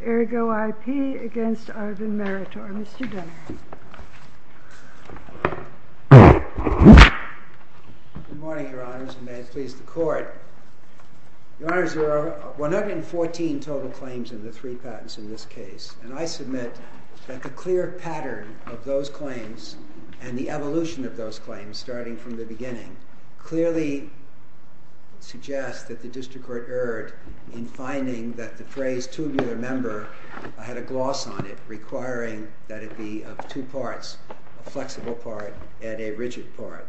Good morning, Your Honors, and may it please the Court. Your Honors, there are 114 total claims in the three patents in this case, and I submit that the clear pattern of those claims and the evolution of those claims, starting from the beginning, clearly suggests that the District Court erred in finding that the phrase tubular member had a gloss on it, requiring that it be of two parts, a flexible part and a rigid part.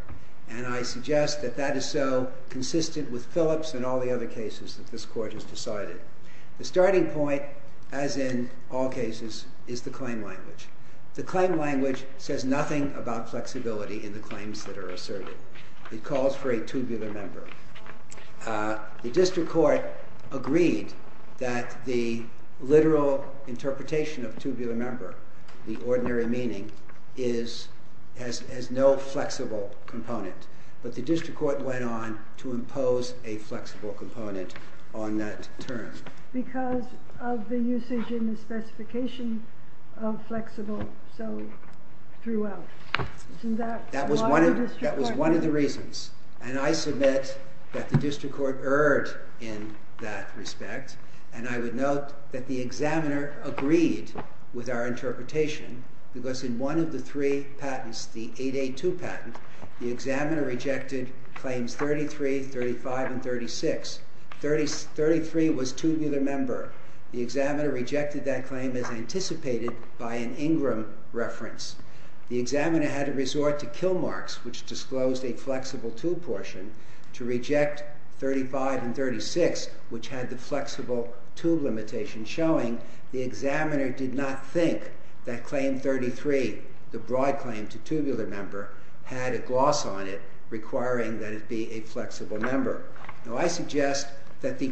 And I suggest that that is so consistent with Phillips and all the other cases that this Court has decided. The starting point, as in all cases, is the claim language. The claim language says nothing about flexibility in the claims that are asserted. It calls for a tubular member. The District Court agreed that the literal interpretation of tubular member, the ordinary meaning, has no flexible component, but the District Court went on to impose a flexible component on that term. Because of the usage in the specification of flexible, so it threw out. Isn't that why the District Court erred? That was one of the reasons, and I submit that the District Court erred in that respect, and I would note that the examiner agreed with our interpretation, because in one of the three patents, the 882 patent, the examiner rejected claims 33, 35, and 36. 33 was too a tubular member. The examiner rejected that claim as anticipated by an Ingram reference. The examiner had to resort to kill marks, which disclosed a flexible tube portion, to reject 35 and 36, which had the flexible tube limitation, showing the examiner did not think that claim 33, the broad claim to tubular member, had a gloss on it, requiring that the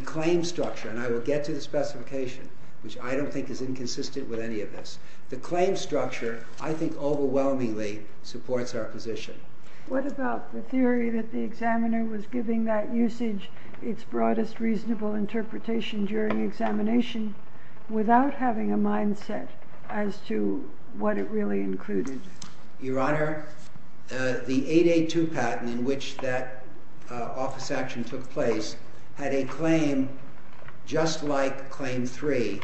claim structure, and I will get to the specification, which I don't think is inconsistent with any of this. The claim structure, I think, overwhelmingly supports our position. What about the theory that the examiner was giving that usage its broadest reasonable interpretation during examination, without having a mindset as to what it really included? Your Honor, the 882 patent, in which that office action took place, had a claim just like claim 3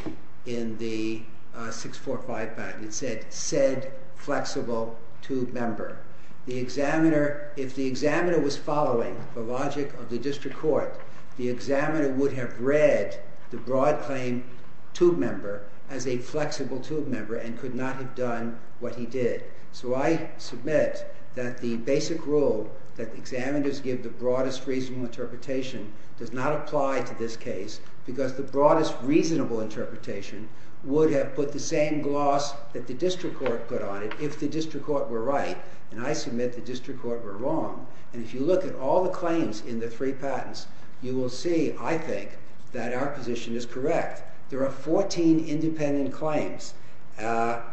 in the 645 patent. It said, said flexible tube member. The examiner, if the examiner was following the logic of the District Court, the examiner would have read the broad claim tube member as a flexible tube member, and could not have done what he did. So I submit that the basic rule that examiners give the broadest reasonable interpretation does not apply to this case, because the broadest reasonable interpretation would have put the same gloss that the District Court put on it, if the District Court were right. And I submit the District Court were wrong. And if you look at all the claims in the three direct, there are 14 independent claims, and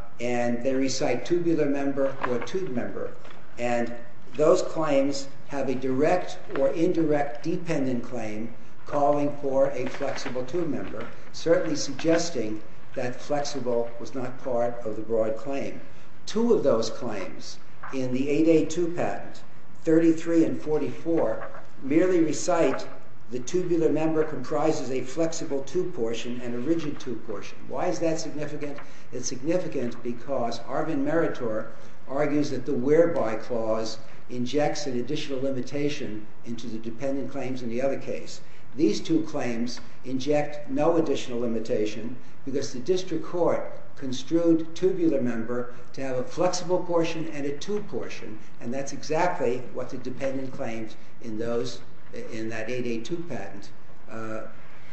they recite tubular member or tube member, and those claims have a direct or indirect dependent claim calling for a flexible tube member, certainly suggesting that flexible was not part of the broad claim. Two of those claims in the 882 patent, 33 and 44, merely recite the tubular member comprises a flexible tube portion and a rigid tube portion. Why is that significant? It's significant because Arvin Meritor argues that the whereby clause injects an additional limitation into the dependent claims in the other case. These two claims inject no additional limitation, because the District Court construed tubular member to have a flexible portion and a tube portion, and that's exactly what the dependent claims in that 882 patent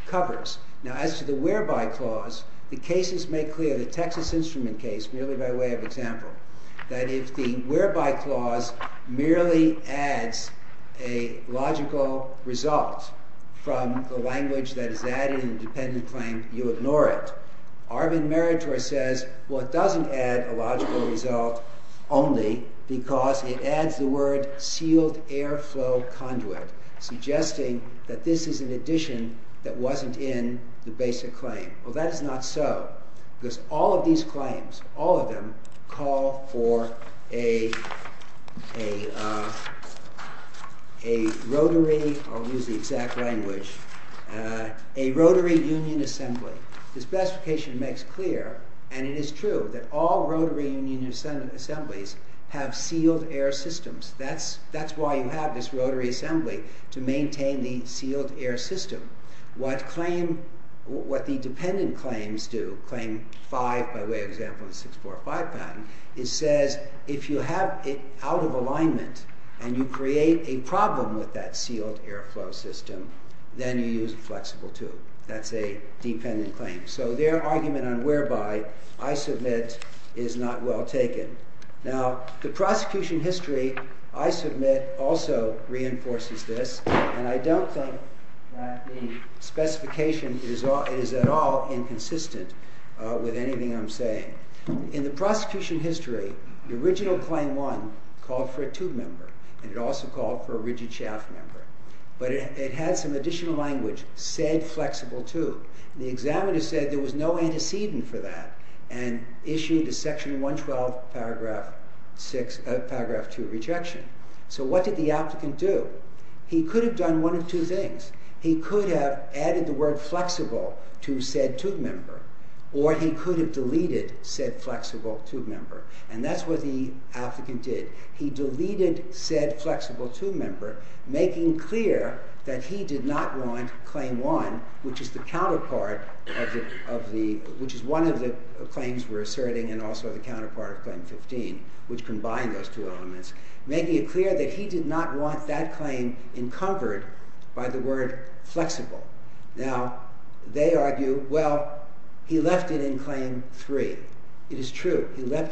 covers. Now as to the whereby clause, the cases make clear, the Texas Instrument case, merely by way of example, that if the whereby clause merely adds a logical result from the language that is added in the dependent claim, you ignore it. Arvin Meritor says, well, it doesn't add a logical result only because it adds the word sealed airflow conduit, suggesting that this is an addition that wasn't in the basic claim. Well, that is not so, because all of these claims, all of them, call for a rotary, I'll use the exact language, a rotary union assembly. The specification makes clear, and it is true, that all rotary union assemblies have sealed air systems. That's why you have this rotary assembly, to maintain the sealed air system. What the dependent claims do, claim 5, by way of example, in the 645 patent, it says if you have it out of alignment and you create a problem with that sealed airflow system, then you use a flexible tube. That's a dependent claim. So their argument on whereby, I submit, is not well taken. Now, the prosecution history, I submit, also reinforces this, and I don't think that the specification is at all inconsistent with anything I'm saying. In the prosecution history, the original claim 1 called for a tube member, and it also called for a rigid shaft member, but it had some additional language, said flexible tube. The examiner said there was no antecedent for that, and issued a section 112, paragraph 2 rejection. So what did the applicant do? He could have done one of two things. He could have added the word flexible to said tube member, or he could have deleted said flexible tube member, and that's what the applicant did. He deleted said flexible tube member, making clear that he did not want claim 1, which is the counterpart of the, which is one of the claims we're asserting, and also the counterpart of claim 15, which combine those two elements, making it clear that he did not want that claim encumbered by the record. He left it in claim 3, and the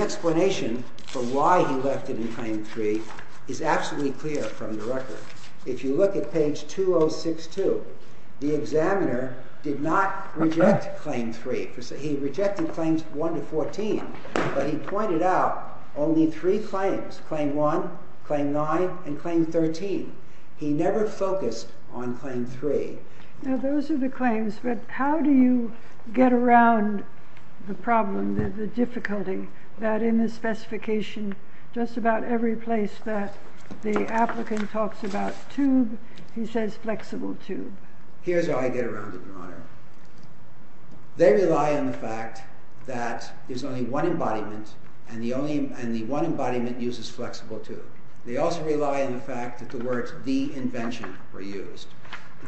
explanation for why he left it in claim 3 is absolutely clear from the record. If you look at page 2062, the examiner did not reject claim 3. He rejected claims 1 to 14, but he pointed out only three claims, claim 1, claim 9, and claim 13. He never focused on claim 3. Now those are the claims, but how do you get around the problem, the difficulty, that in the specification, just about every place that the applicant talks about tube, he says flexible tube? Here's how I get around it, Your Honor. They rely on the fact that there's only one embodiment, and the one embodiment uses flexible tube. They also rely on the fact that the words the invention were used.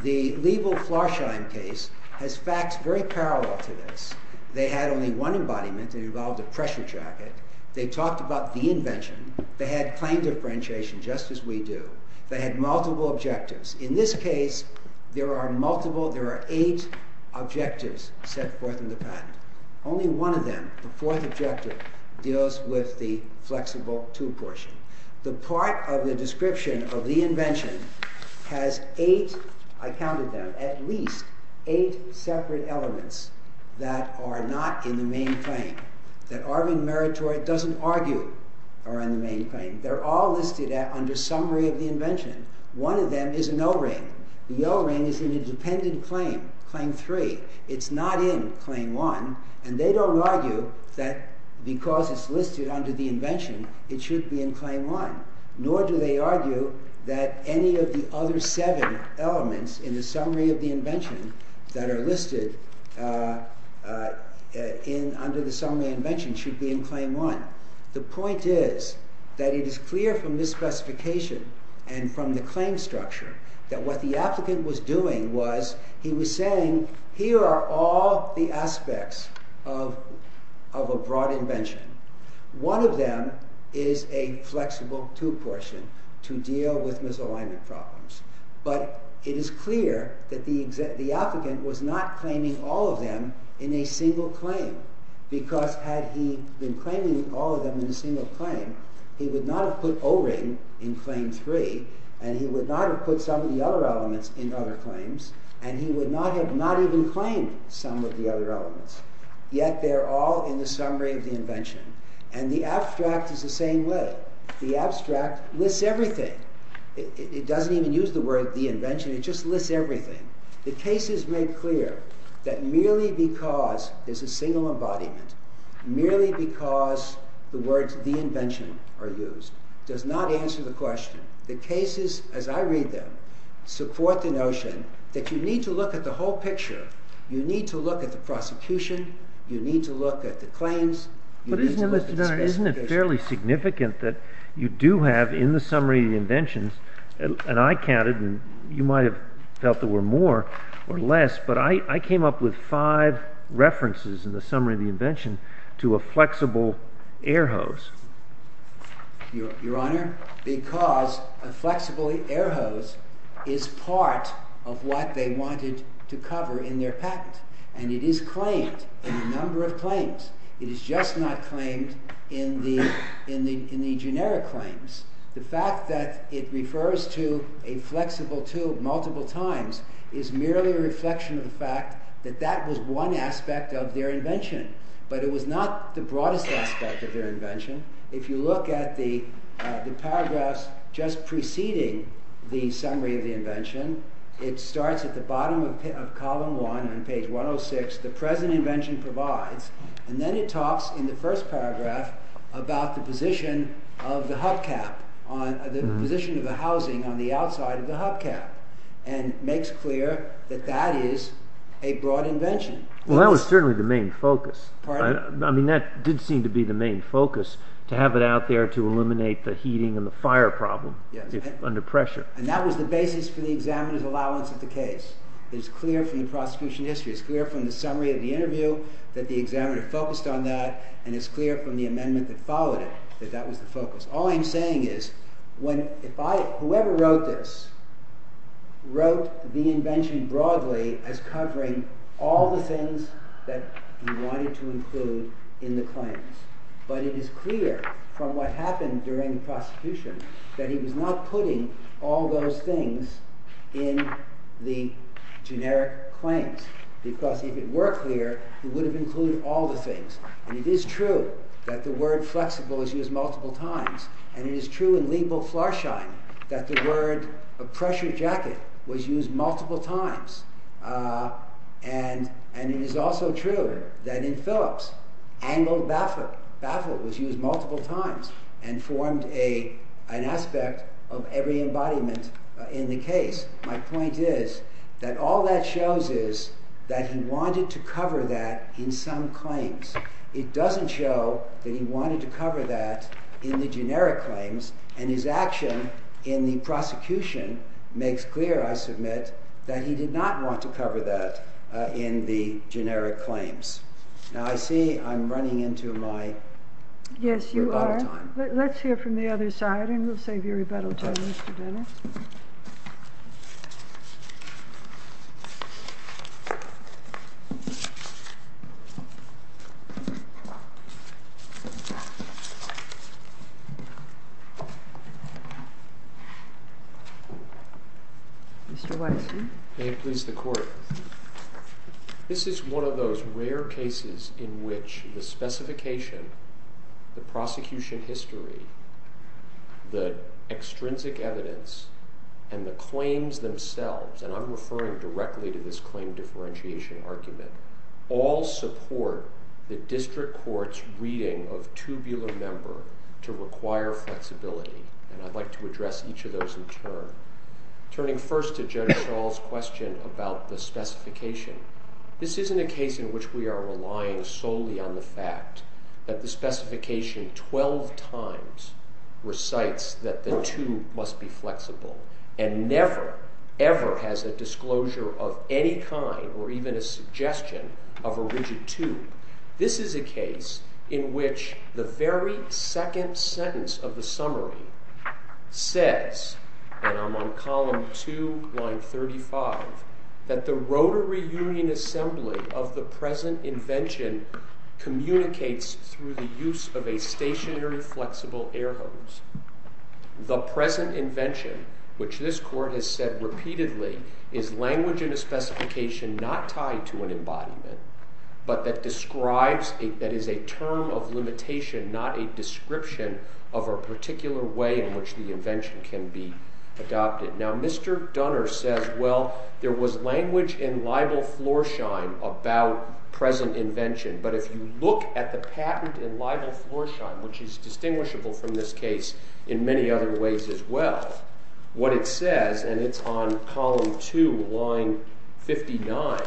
The Liebel-Florsheim case has facts very parallel to this. They had only one embodiment that involved a pressure jacket. They talked about the invention. They had claim differentiation, just as we do. They had multiple objectives. In this case, there are eight objectives set forth in the patent. Only one of them, the fourth objective, deals with the flexible tube portion. The part of the description of the invention has eight, I counted them, at least eight separate elements that are not in the main claim, that Arvin Meritori doesn't argue are in the main claim. They're all listed under summary of the invention. One of them is an O-ring. The O-ring is in a dependent claim, claim 3. It's not in claim 1. They don't argue that because it's listed under the invention, it should be in claim 1, nor do they argue that any of the other seven elements in the summary of the invention that are listed under the summary of the invention should be in claim 1. The point is that it is clear from this specification and from the claim structure that what the applicant was doing was he was saying, here are all the aspects of a broad invention. One of them is a flexible tube portion to deal with misalignment problems, but it is clear that the applicant was not claiming all of them in a single claim, because had he been claiming all of them in a single claim, he would not have put O-ring in claim 3, and he would not have put some of the other elements in other claims, and he would not have not even claimed some of the other elements. Yet, they're all in the summary of the invention, and the abstract is the same way. The abstract lists everything. It doesn't even use the word the invention. It just lists everything. The case is made clear that merely because there's a single embodiment, merely because the words the invention are there, the cases, as I read them, support the notion that you need to look at the whole picture. You need to look at the prosecution. You need to look at the claims. Isn't it fairly significant that you do have in the summary of the invention, and I counted, and you might have felt there were more or less, but I came up with five references in the summary of the invention to a flexible air hose? Your Honor, because a flexible air hose is part of what they wanted to cover in their patent, and it is claimed in a number of claims. It is just not claimed in the generic claims. The fact that it refers to a flexible tube multiple times is merely a reflection of the fact that that was one aspect of their invention, but it was not the broadest aspect of their invention. If you look at the paragraphs just preceding the summary of the invention, it starts at the bottom of column one on page 106. The present invention provides, and then it talks in the first paragraph about the position of the hubcap, the position of the housing on the outside of the hubcap, and makes clear that that is a broad invention. Well, that was certainly the main focus. I mean, that did seem to be the main focus, to have it out there to eliminate the heating and the fire problem under pressure. And that was the basis for the examiner's allowance of the case. It is clear from the prosecution history. It is clear from the summary of the interview that the examiner focused on that, and it is clear from the amendment that followed it that that was the focus. All I am saying is, whoever wrote this wrote the invention broadly as covering all the things that he wanted to include in the claims. But it is clear from what happened during the prosecution that he was not putting all those things in the generic claims, because if it were clear, he would have included all the things. And it is true that the word flexible is used multiple times, and it is true in Liebel-Flarschein that the word pressure jacket was used multiple times. And it is also true that in Phillips, angled bafflet was used multiple times, and formed an aspect of every embodiment in the case. My point is that all that shows is that he wanted to cover that in some claims. It doesn't show that he wanted to cover that in the generic claims, and his action in the prosecution makes clear, I submit, that he did not want to cover that in the generic claims. Now I see I'm running into my rebuttal time. Yes, you are. Let's hear from the other side, and we'll save your rebuttal time, Mr. Dennis. Mr. Weiss? May it please the Court. This is one of those rare cases in which the specification, the prosecution history, the extrinsic evidence, and the claims themselves, and I'm referring to this reading of tubular member to require flexibility, and I'd like to address each of those in turn. Turning first to Jennifer Shaw's question about the specification, this isn't a case in which we are relying solely on the fact that the specification twelve times recites that the tube must be flexible, and never, ever has a disclosure of any kind or even a suggestion of a rigid tube. This is a case in which the very second sentence of the summary says, and I'm on column 2, line 35, that the rotary union assembly of the present invention communicates through the use of a stationary flexible air hose. The present invention, which this Court has said repeatedly, is language in a specification not tied to an embodiment, but that describes, that is a term of limitation, not a description of a particular way in which the invention can be adopted. Now, Mr. Dunner says, well, there was language in libel floorshine about present invention, but if you look at the patent in libel floorshine, which is distinguishable from this case in many other ways as well, what it says, and it's on column 2, line 59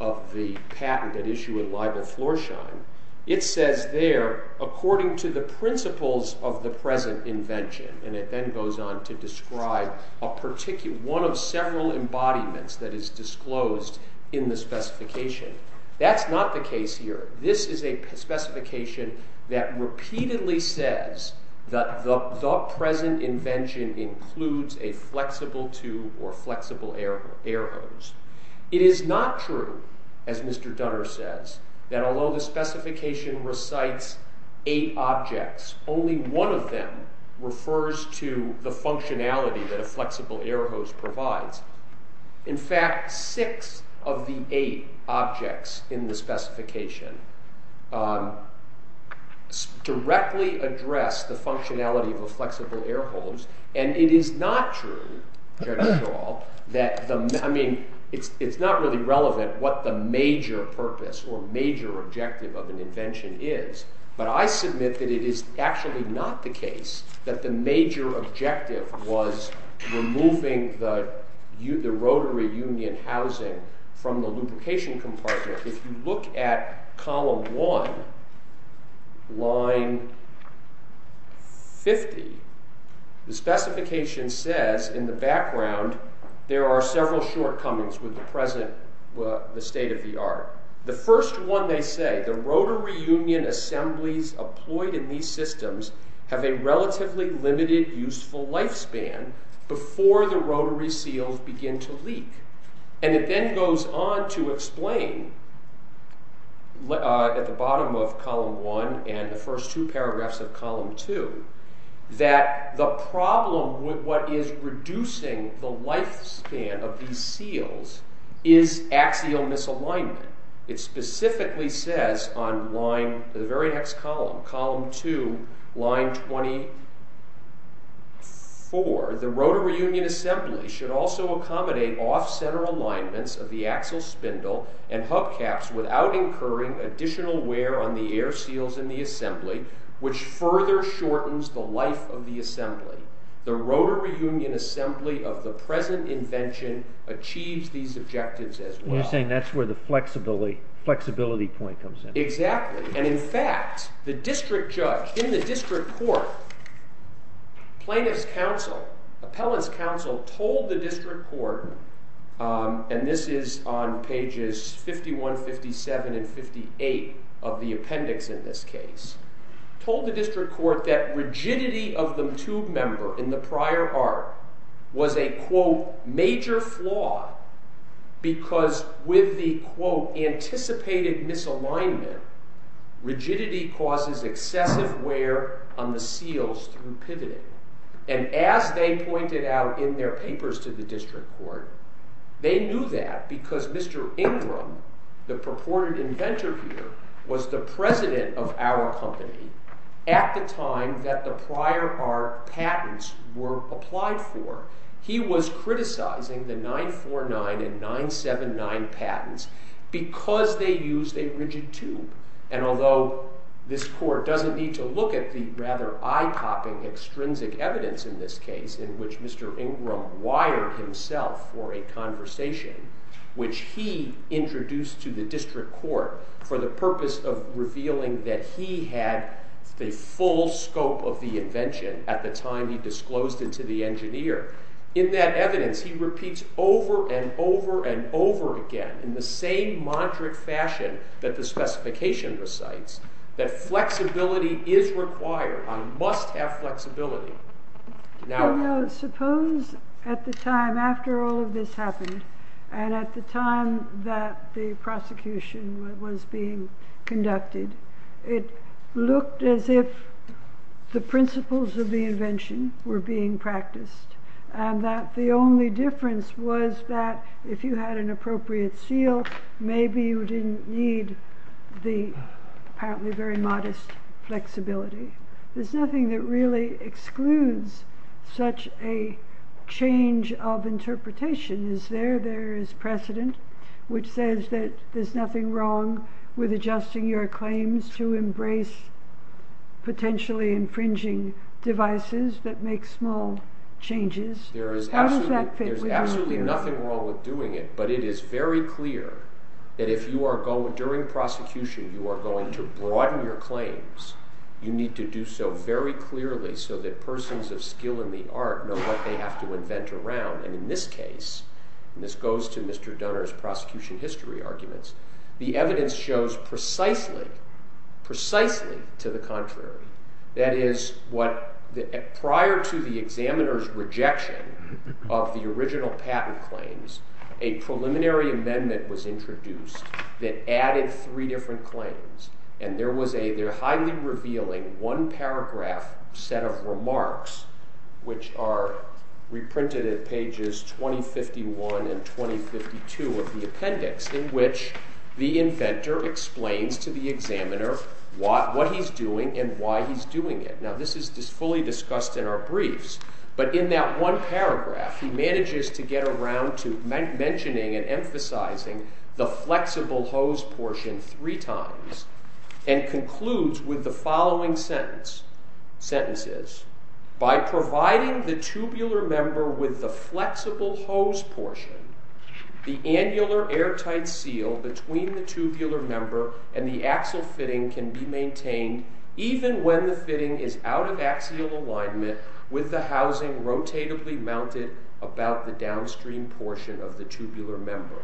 of the patent that issued libel floorshine, it says there, according to the principles of the present invention, and it then goes on to describe a particular, one of several embodiments that is disclosed in the specification. That's not the case here. This is a specification that repeatedly says that the present invention includes a flexible tube or flexible air hose. It is not true, as Mr. Dunner says, that although the specification recites eight objects, only one of them refers to the functionality that a flexible air hose provides. In fact, six of the eight objects in the specification directly address the functionality of a flexible air hose, and it is not true, Jerry Shaw, that, I mean, it's not really relevant what the major purpose or major objective of an invention is, but I submit that it is actually not the case that the major objective was removing the rotary union housing from the lubrication compartment. If you look at column 1, line 50, the specification says in the background there are several shortcomings with the present state of the art. The first one they say, the rotary union assemblies employed in these before the rotary seals begin to leak, and it then goes on to explain at the bottom of column 1 and the first two paragraphs of column 2 that the problem with what is reducing the lifespan of these seals is axial misalignment. It specifically says on line, the very next column, column 2, line 24, the rotary union assembly should also accommodate off-center alignments of the axle spindle and hub caps without incurring additional wear on the air seals in the assembly, which further shortens the life of the assembly. The rotary union assembly of the present invention achieves these objectives as well. You're saying that's where the flexibility point comes in. Exactly. And in fact, the district judge in the district court, plaintiff's counsel, appellant's counsel, told the district court, and this is on pages 51, 57, and 58 of the appendix in this case, told the district court that rigidity of the tube member in the prior art was a quote, major flaw because with the quote, anticipated misalignment, rigidity causes excessive wear on the seals through pivoting. And as they pointed out in their papers to the district court, they knew that because Mr. Ingram, the purported inventor here, was the president of our company at the time that the prior art patents were applied for, he was criticizing the 949 and 979 patents because they used a rigid tube. And although this court doesn't need to look at the rather eye-popping extrinsic evidence in this case in which Mr. Ingram wired himself for a conversation, which he introduced to the district court for the purpose of revealing that he had the full scope of the invention at the time he disclosed it to the engineer, in that evidence, he repeats over and over and over again, in the same moderate fashion that the specification recites, that flexibility is required. I must have flexibility. Suppose at the time after all of this happened, and at the time that the prosecution was being conducted, it looked as if the principles of the invention were being practiced, and that the only difference was that if you had an appropriate seal, maybe you didn't need the apparently very modest flexibility. There's nothing that really excludes such a change of interpretation. Is there? There is precedent, which says that there's nothing wrong with adjusting your claims to embrace potentially infringing devices that make small changes. How does that fit with you? There's absolutely nothing wrong with doing it, but it is very clear that if you are going, during prosecution, you are going to broaden your claims, you need to do so very clearly so that persons of skill in the art know what they have to invent around. In this case, and this goes to Mr. Dunner's prosecution history arguments, the evidence shows precisely, precisely to the contrary. That is, prior to the examiner's rejection of the original patent claims, a preliminary amendment was introduced that added three different claims, and there was a highly revealing one-paragraph set of remarks, which are reprinted at pages 2051 and 2052 of the appendix, in which the inventor explains to the examiner what he's doing and why he's doing it. Now, this is fully discussed in our briefs, but in that one paragraph, he manages to get around to mentioning and emphasizing the flexible hose portion three times and concludes with the following sentences. By providing the tubular member with the flexible hose portion, the annular airtight seal between the tubular member and the axle fitting can be maintained even when the fitting is out of axial alignment with the housing rotatably mounted about the downstream portion of the tubular member.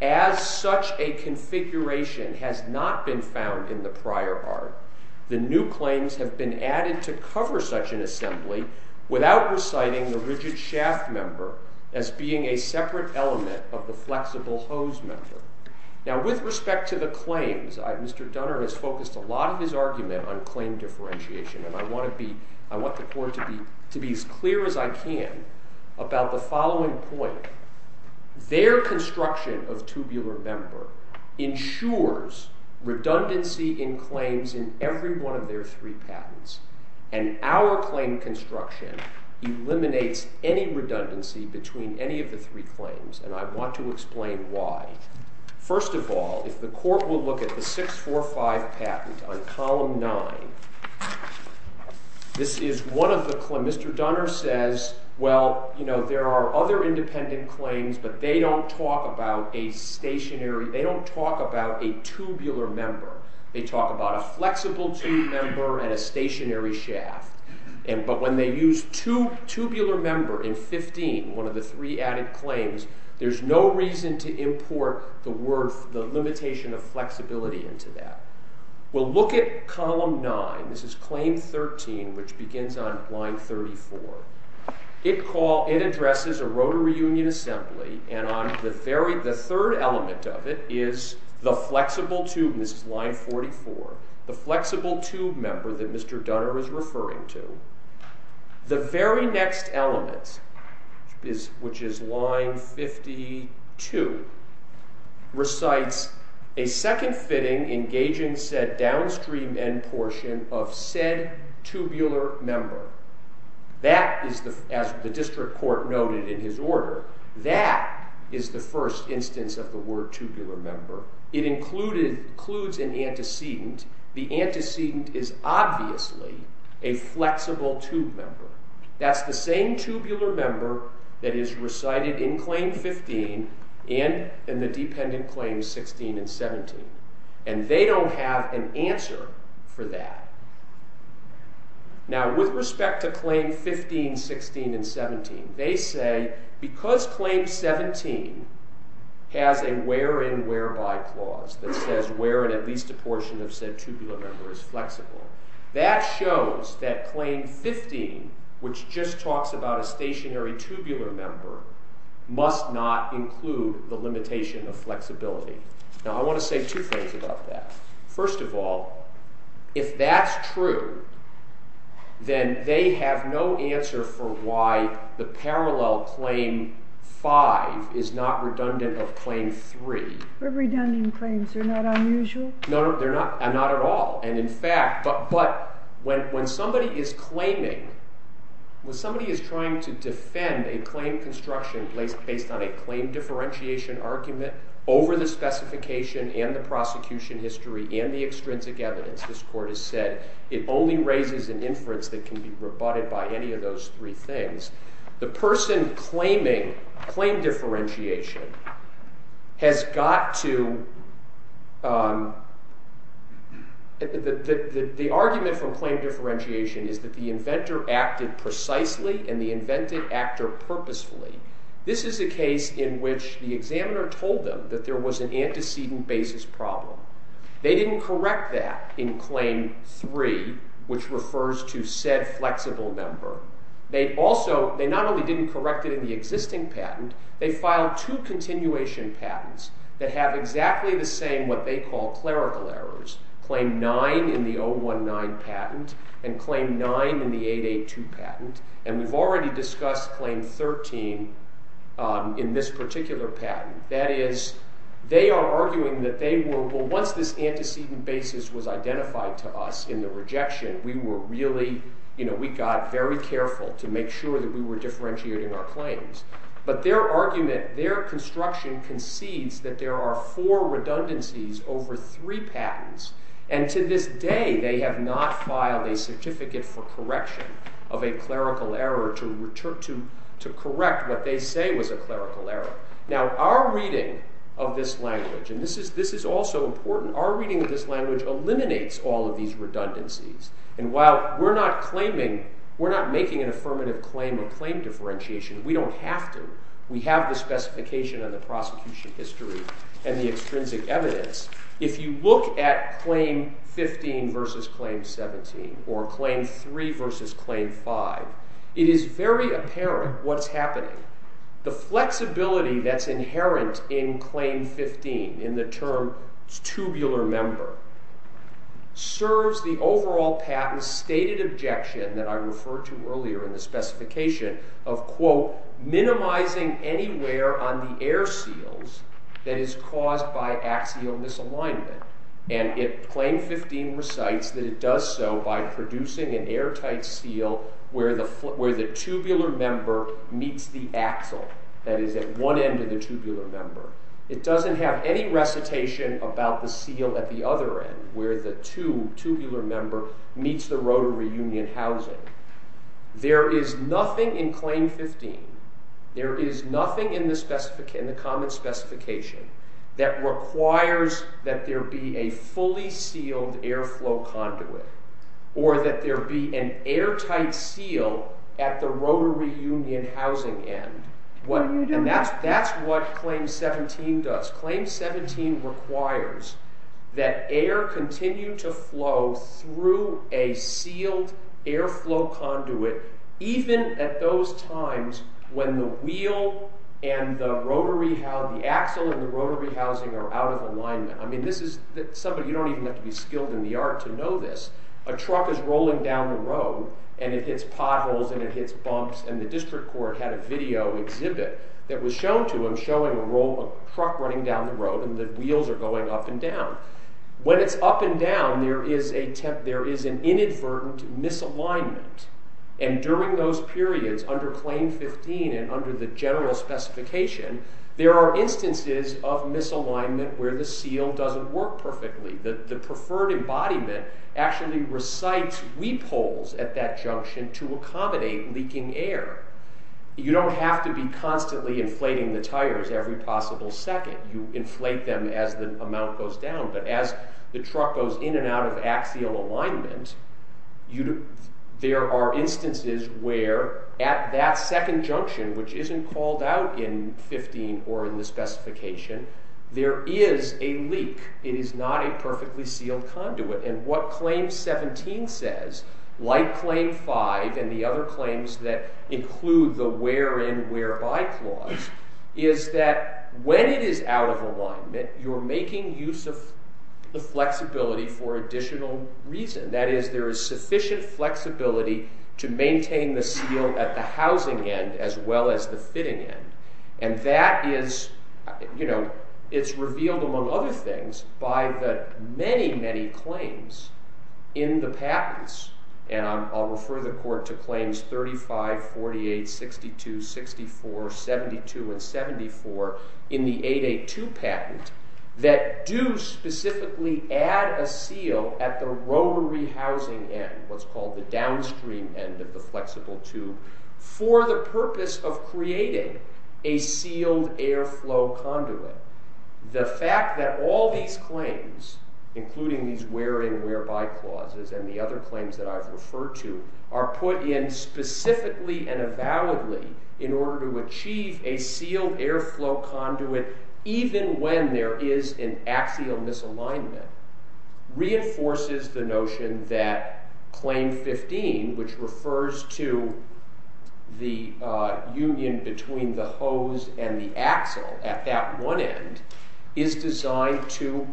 As such a configuration has not been found in the prior art, the new claims have been added to cover such an assembly without reciting the rigid shaft member as being a separate element of the flexible hose member. Now, with respect to the claims, Mr. Dunner has focused a lot of his argument on claim differentiation, and I want the court to be as clear as I can about the following point. Their construction of tubular member ensures redundancy in claims in every one of their three patents, and our claim construction eliminates any redundancy between any of the three claims, and I want to explain why. First of all, if the court will look at the 645 patent on column 9, this is one of the claims. Mr. Dunner says, well, you know, there are other independent claims, but they don't talk about a stationary, they don't talk about a tubular member. They talk about a flexible tube member and a stationary shaft. But when they use tubular member in 15, one of the three added claims, there's no reason to import the limitation of flexibility into that. We'll look at column 9. This is claim 13, which begins on line 34. It addresses a rotor reunion assembly, and the third element of it is the flexible tube, and this is line 44, the flexible tube member that Mr. Dunner is referring to. The very next element, which is line 52, recites a second fitting engaging said downstream end portion of said tubular member. That is, as the district court noted in his order, that is the first instance of the word tubular member. It includes an antecedent. The antecedent is obviously a flexible tube member. That's the same tubular member that is recited in claim 15 and in the dependent claims 16 and 17, and they don't have an answer for that. Now, with respect to claim 15, 16, and 17, they say because claim 17 has a where-in, where-by clause that says where in at least a portion of said tubular member is flexible, that shows that claim 15, which just talks about a stationary tubular member, must not include the limitation of flexibility. Now, I want to say two things about that. First of all, if that's true, then they have no answer for why the parallel claim 5 is not redundant of claim 3. But redundant claims are not unusual? No, no, they're not at all. And in fact, but when somebody is claiming, when somebody is trying to defend a claim construction based on a claim differentiation argument over the specification and the prosecution history and the extrinsic evidence, this court has said it only raises an inference that can be rebutted by any of those three things, the person claiming claim differentiation has got to... The argument from claim differentiation is that the inventor acted precisely and the invented actor purposefully. This is a case in which the examiner told them that there was an antecedent basis problem. They didn't correct that in claim 3, which refers to said flexible member. They also, they not only didn't correct it in the existing patent, they filed two continuation patents that have exactly the same what they call clerical errors, claim 9 in the 019 patent and claim 9 in the 882 patent, and we've already discussed claim 13 in this particular patent. That is, they are arguing that they were, well, once this antecedent basis was identified to us in the rejection, we were really, you know, we got very careful to make sure that we were differentiating our claims. But their argument, their construction concedes that there are four redundancies over three patents, and to this day they have not filed a certificate for correction of a clerical error to correct what they say was a clerical error. Now, our reading of this language, and this is also important, our reading of this language eliminates all of these redundancies, and while we're not claiming, we're not making an affirmative claim of claim differentiation, we don't have to. We have the specification of the prosecution history and the extrinsic evidence. If you look at claim 15 versus claim 17 or claim 3 versus claim 5, it is very apparent what's happening. The flexibility that's inherent in claim 15 in the term tubular member serves the overall patent's stated objection that I referred to earlier in the specification of, quote, minimizing any wear on the air seals that is caused by axial misalignment. And claim 15 recites that it does so by producing an airtight seal where the tubular member meets the axle that is at one end of the tubular member. It doesn't have any recitation about the seal at the other end where the tube, tubular member, meets the rotary union housing. There is nothing in claim 15, there is nothing in the common specification that requires that there be a fully sealed airflow conduit or that there be an airtight seal at the rotary union housing end. And that's what claim 17 does. Claim 17 requires that air continue to flow through a sealed airflow conduit even at those times when the axle and the rotary housing are out of alignment. You don't even have to be skilled in the art to know this. A truck is rolling down the road and it hits potholes and it hits bumps and the district court had a video exhibit that was shown to them showing a truck running down the road and the wheels are going up and down. When it's up and down there is an inadvertent misalignment. And during those periods under claim 15 and under the general specification there are instances of misalignment where the seal doesn't work perfectly. The preferred embodiment actually recites weep holes at that junction to accommodate leaking air. You don't have to be constantly inflating the tires every possible second. You inflate them as the amount goes down. But as the truck goes in and out of axial alignment there are instances where at that second junction which isn't called out in 15 or in the specification there is a leak. It is not a perfectly sealed conduit. And what claim 17 says, like claim 5 and the other claims that include the where-in-where-by clause is that when it is out of alignment you're making use of the flexibility for additional reason. That is, there is sufficient flexibility to maintain the seal at the housing end as well as the fitting end. And that is, you know, it's revealed among other things by the many, many claims in the patents. And I'll refer the court to claims 35, 48, 62, 64, 72, and 74 in the 882 patent that do specifically add a seal at the rotary housing end, what's called the downstream end of the flexible tube, for the purpose of creating a sealed airflow conduit. The fact that all these claims, including these where-in-where-by clauses and the other claims that I've referred to, are put in specifically and avowedly in order to achieve a sealed airflow conduit even when there is an axial misalignment reinforces the notion that claim 15, which refers to the union between the hose and the axle at that one end, is designed to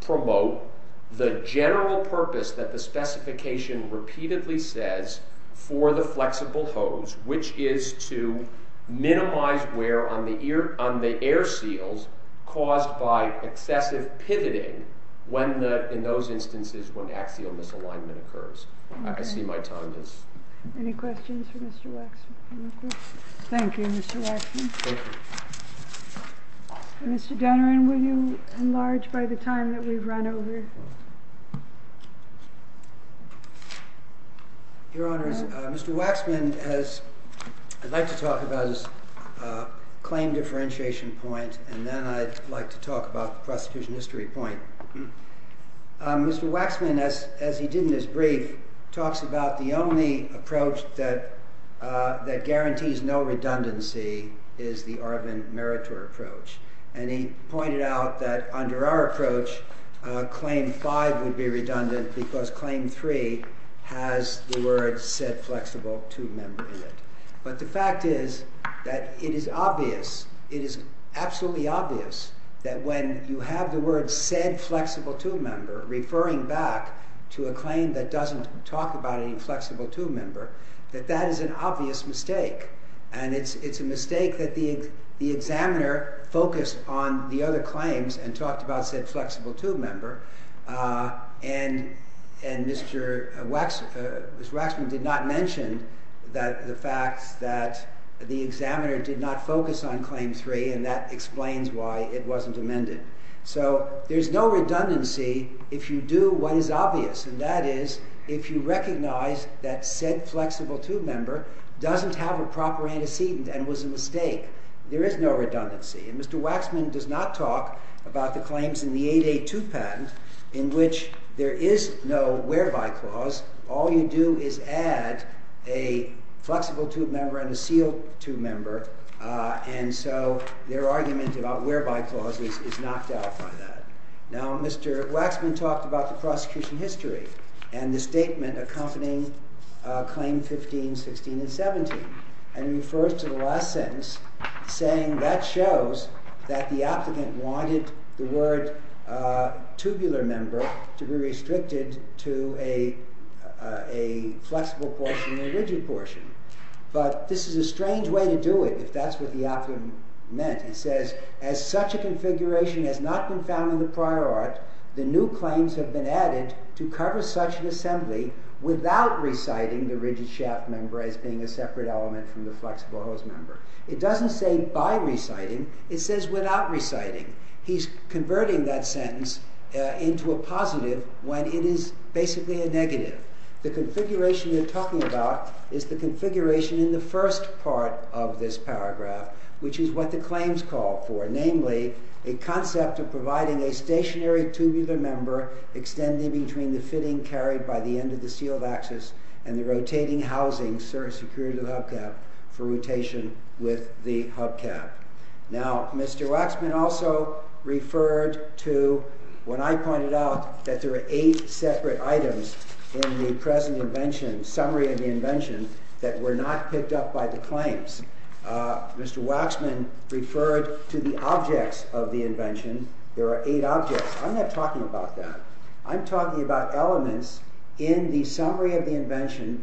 promote the general purpose that the specification repeatedly says for the flexible hose, which is to minimize wear on the air seals caused by excessive pivoting in those instances when axial misalignment occurs. I see my time has... Any questions for Mr. Waxman? Thank you, Mr. Waxman. Thank you. Mr. Denneran, will you enlarge by the time that we've run over? Your Honor, Mr. Waxman has... I'd like to talk about his claim differentiation point and then I'd like to talk about the prosecution history point. Mr. Waxman, as he did in his brief, talks about the only approach that guarantees no redundancy is the Arvin-Meritor approach, and he pointed out that under our approach claim 5 would be redundant because claim 3 has the words said flexible tube member in it. But the fact is that it is obvious, it is absolutely obvious that when you have the words said flexible tube member referring back to a claim that doesn't talk about any flexible tube member, that that is an obvious mistake and it's a mistake that the examiner focused on the other claims and talked about said flexible tube member and Mr. Waxman did not mention the fact that the examiner did not focus on claim 3 and that explains why it wasn't amended. So there's no redundancy if you do what is obvious and that is if you recognize that said flexible tube member doesn't have a proper antecedent and was a mistake. There is no redundancy. Mr. Waxman does not talk about the claims in the 8A2 patent in which there is no whereby clause. All you do is add a flexible tube member and a sealed tube member and so their argument about whereby clause is knocked out by that. Now Mr. Waxman talked about the prosecution history and the statement accompanying claim 15, 16 and 17 and he refers to the last sentence saying that shows that the applicant wanted the word tubular member to be restricted to a flexible portion and a rigid portion. But this is a strange way to do it if that's what the applicant meant. He says as such a configuration has not been found in the prior art, the new claims have been added to cover such an assembly without reciting the rigid shaft member as being a separate element from the flexible hose member. It doesn't say by reciting, it says without reciting. He's converting that sentence into a positive when it is basically a negative. The configuration you're talking about is the configuration in the first part of this paragraph which is what the claims call for, namely a concept of providing a stationary tubular member extending between the fitting carried by the end of the sealed axis and the rotating housing secured to the hubcap for rotation with the hubcap. Now Mr. Waxman also referred to when I pointed out that there are eight separate items in the present invention, summary of the invention, that were not picked up by the claims. Mr. Waxman referred to the objects of the invention. There are eight objects. I'm not talking about that. I'm talking about elements in the summary of the invention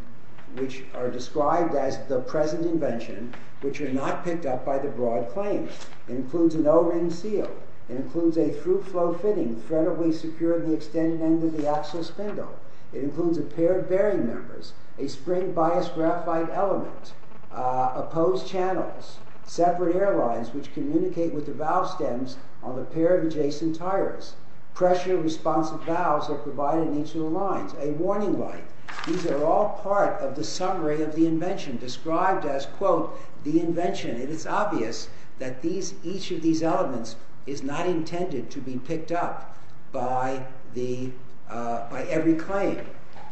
which are described as the present invention which are not picked up by the broad claims. It includes an O-ring seal. It includes a through-flow fitting threadably secured to the extended end of the axle spindle. It includes a pair of bearing members, a spring-biased graphite element opposed channels, separate airlines which communicate with the valve stems on the pair of adjacent tires. Pressure-responsive valves are provided in each of the lines. A warning light. These are all part of the summary of the invention described as, quote, the invention. It is obvious that each of these elements is not intended to be picked up by every claim.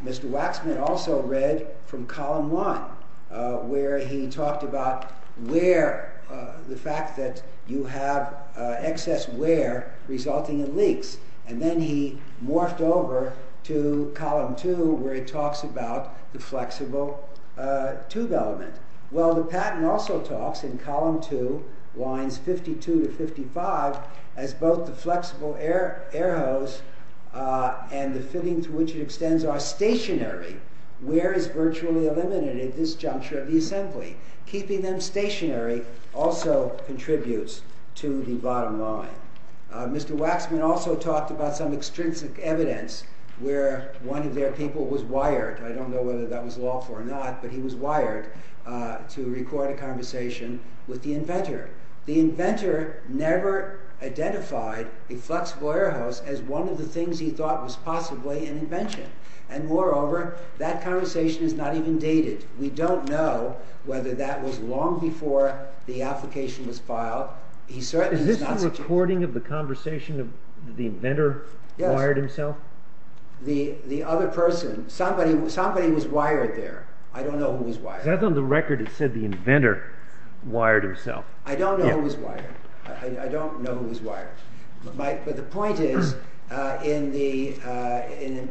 Mr. Waxman also read from column one where he talked about wear, the fact that you have excess wear resulting in leaks. And then he morphed over to column two where he talks about the flexible tube element. Well, the patent also talks in column two, lines 52 to 55, as both the flexible air hose and the fitting through which it extends are stationary. Where is virtually eliminated? This juncture of the assembly. Keeping them stationary also contributes to the bottom line. Mr. Waxman also talked about some extrinsic evidence where one of their people was wired. I don't know whether that was lawful or not, but he was wired to record a conversation with the inventor. The inventor never identified a flexible air hose as one of the things he thought was possibly an invention. And moreover, that conversation is not even dated. We don't know whether that was long before the application was filed. Is this a recording of the conversation of the inventor who wired himself? The other person, somebody was wired there. I don't know who was wired. On the record it said the inventor wired himself. I don't know who was wired. But the point is, in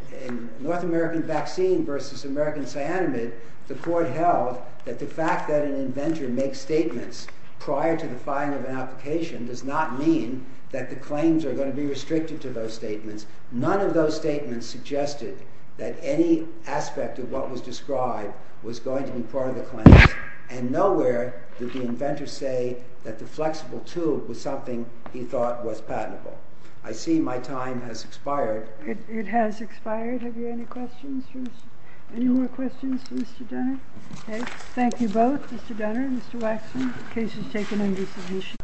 North American Vaccine versus American Cyanamid, the court held that the fact that an inventor makes statements prior to the filing of an application does not mean that the claims are going to be restricted to those statements. None of those statements suggested that any aspect of what was described was going to be part of the claims. And nowhere did the inventor say that the flexible tube was something he thought was patentable. I see my time has expired. It has expired. Have you any questions? Any more questions for Mr. Dunner? Thank you both, Mr. Dunner and Mr. Waxman. The case is taken under submission.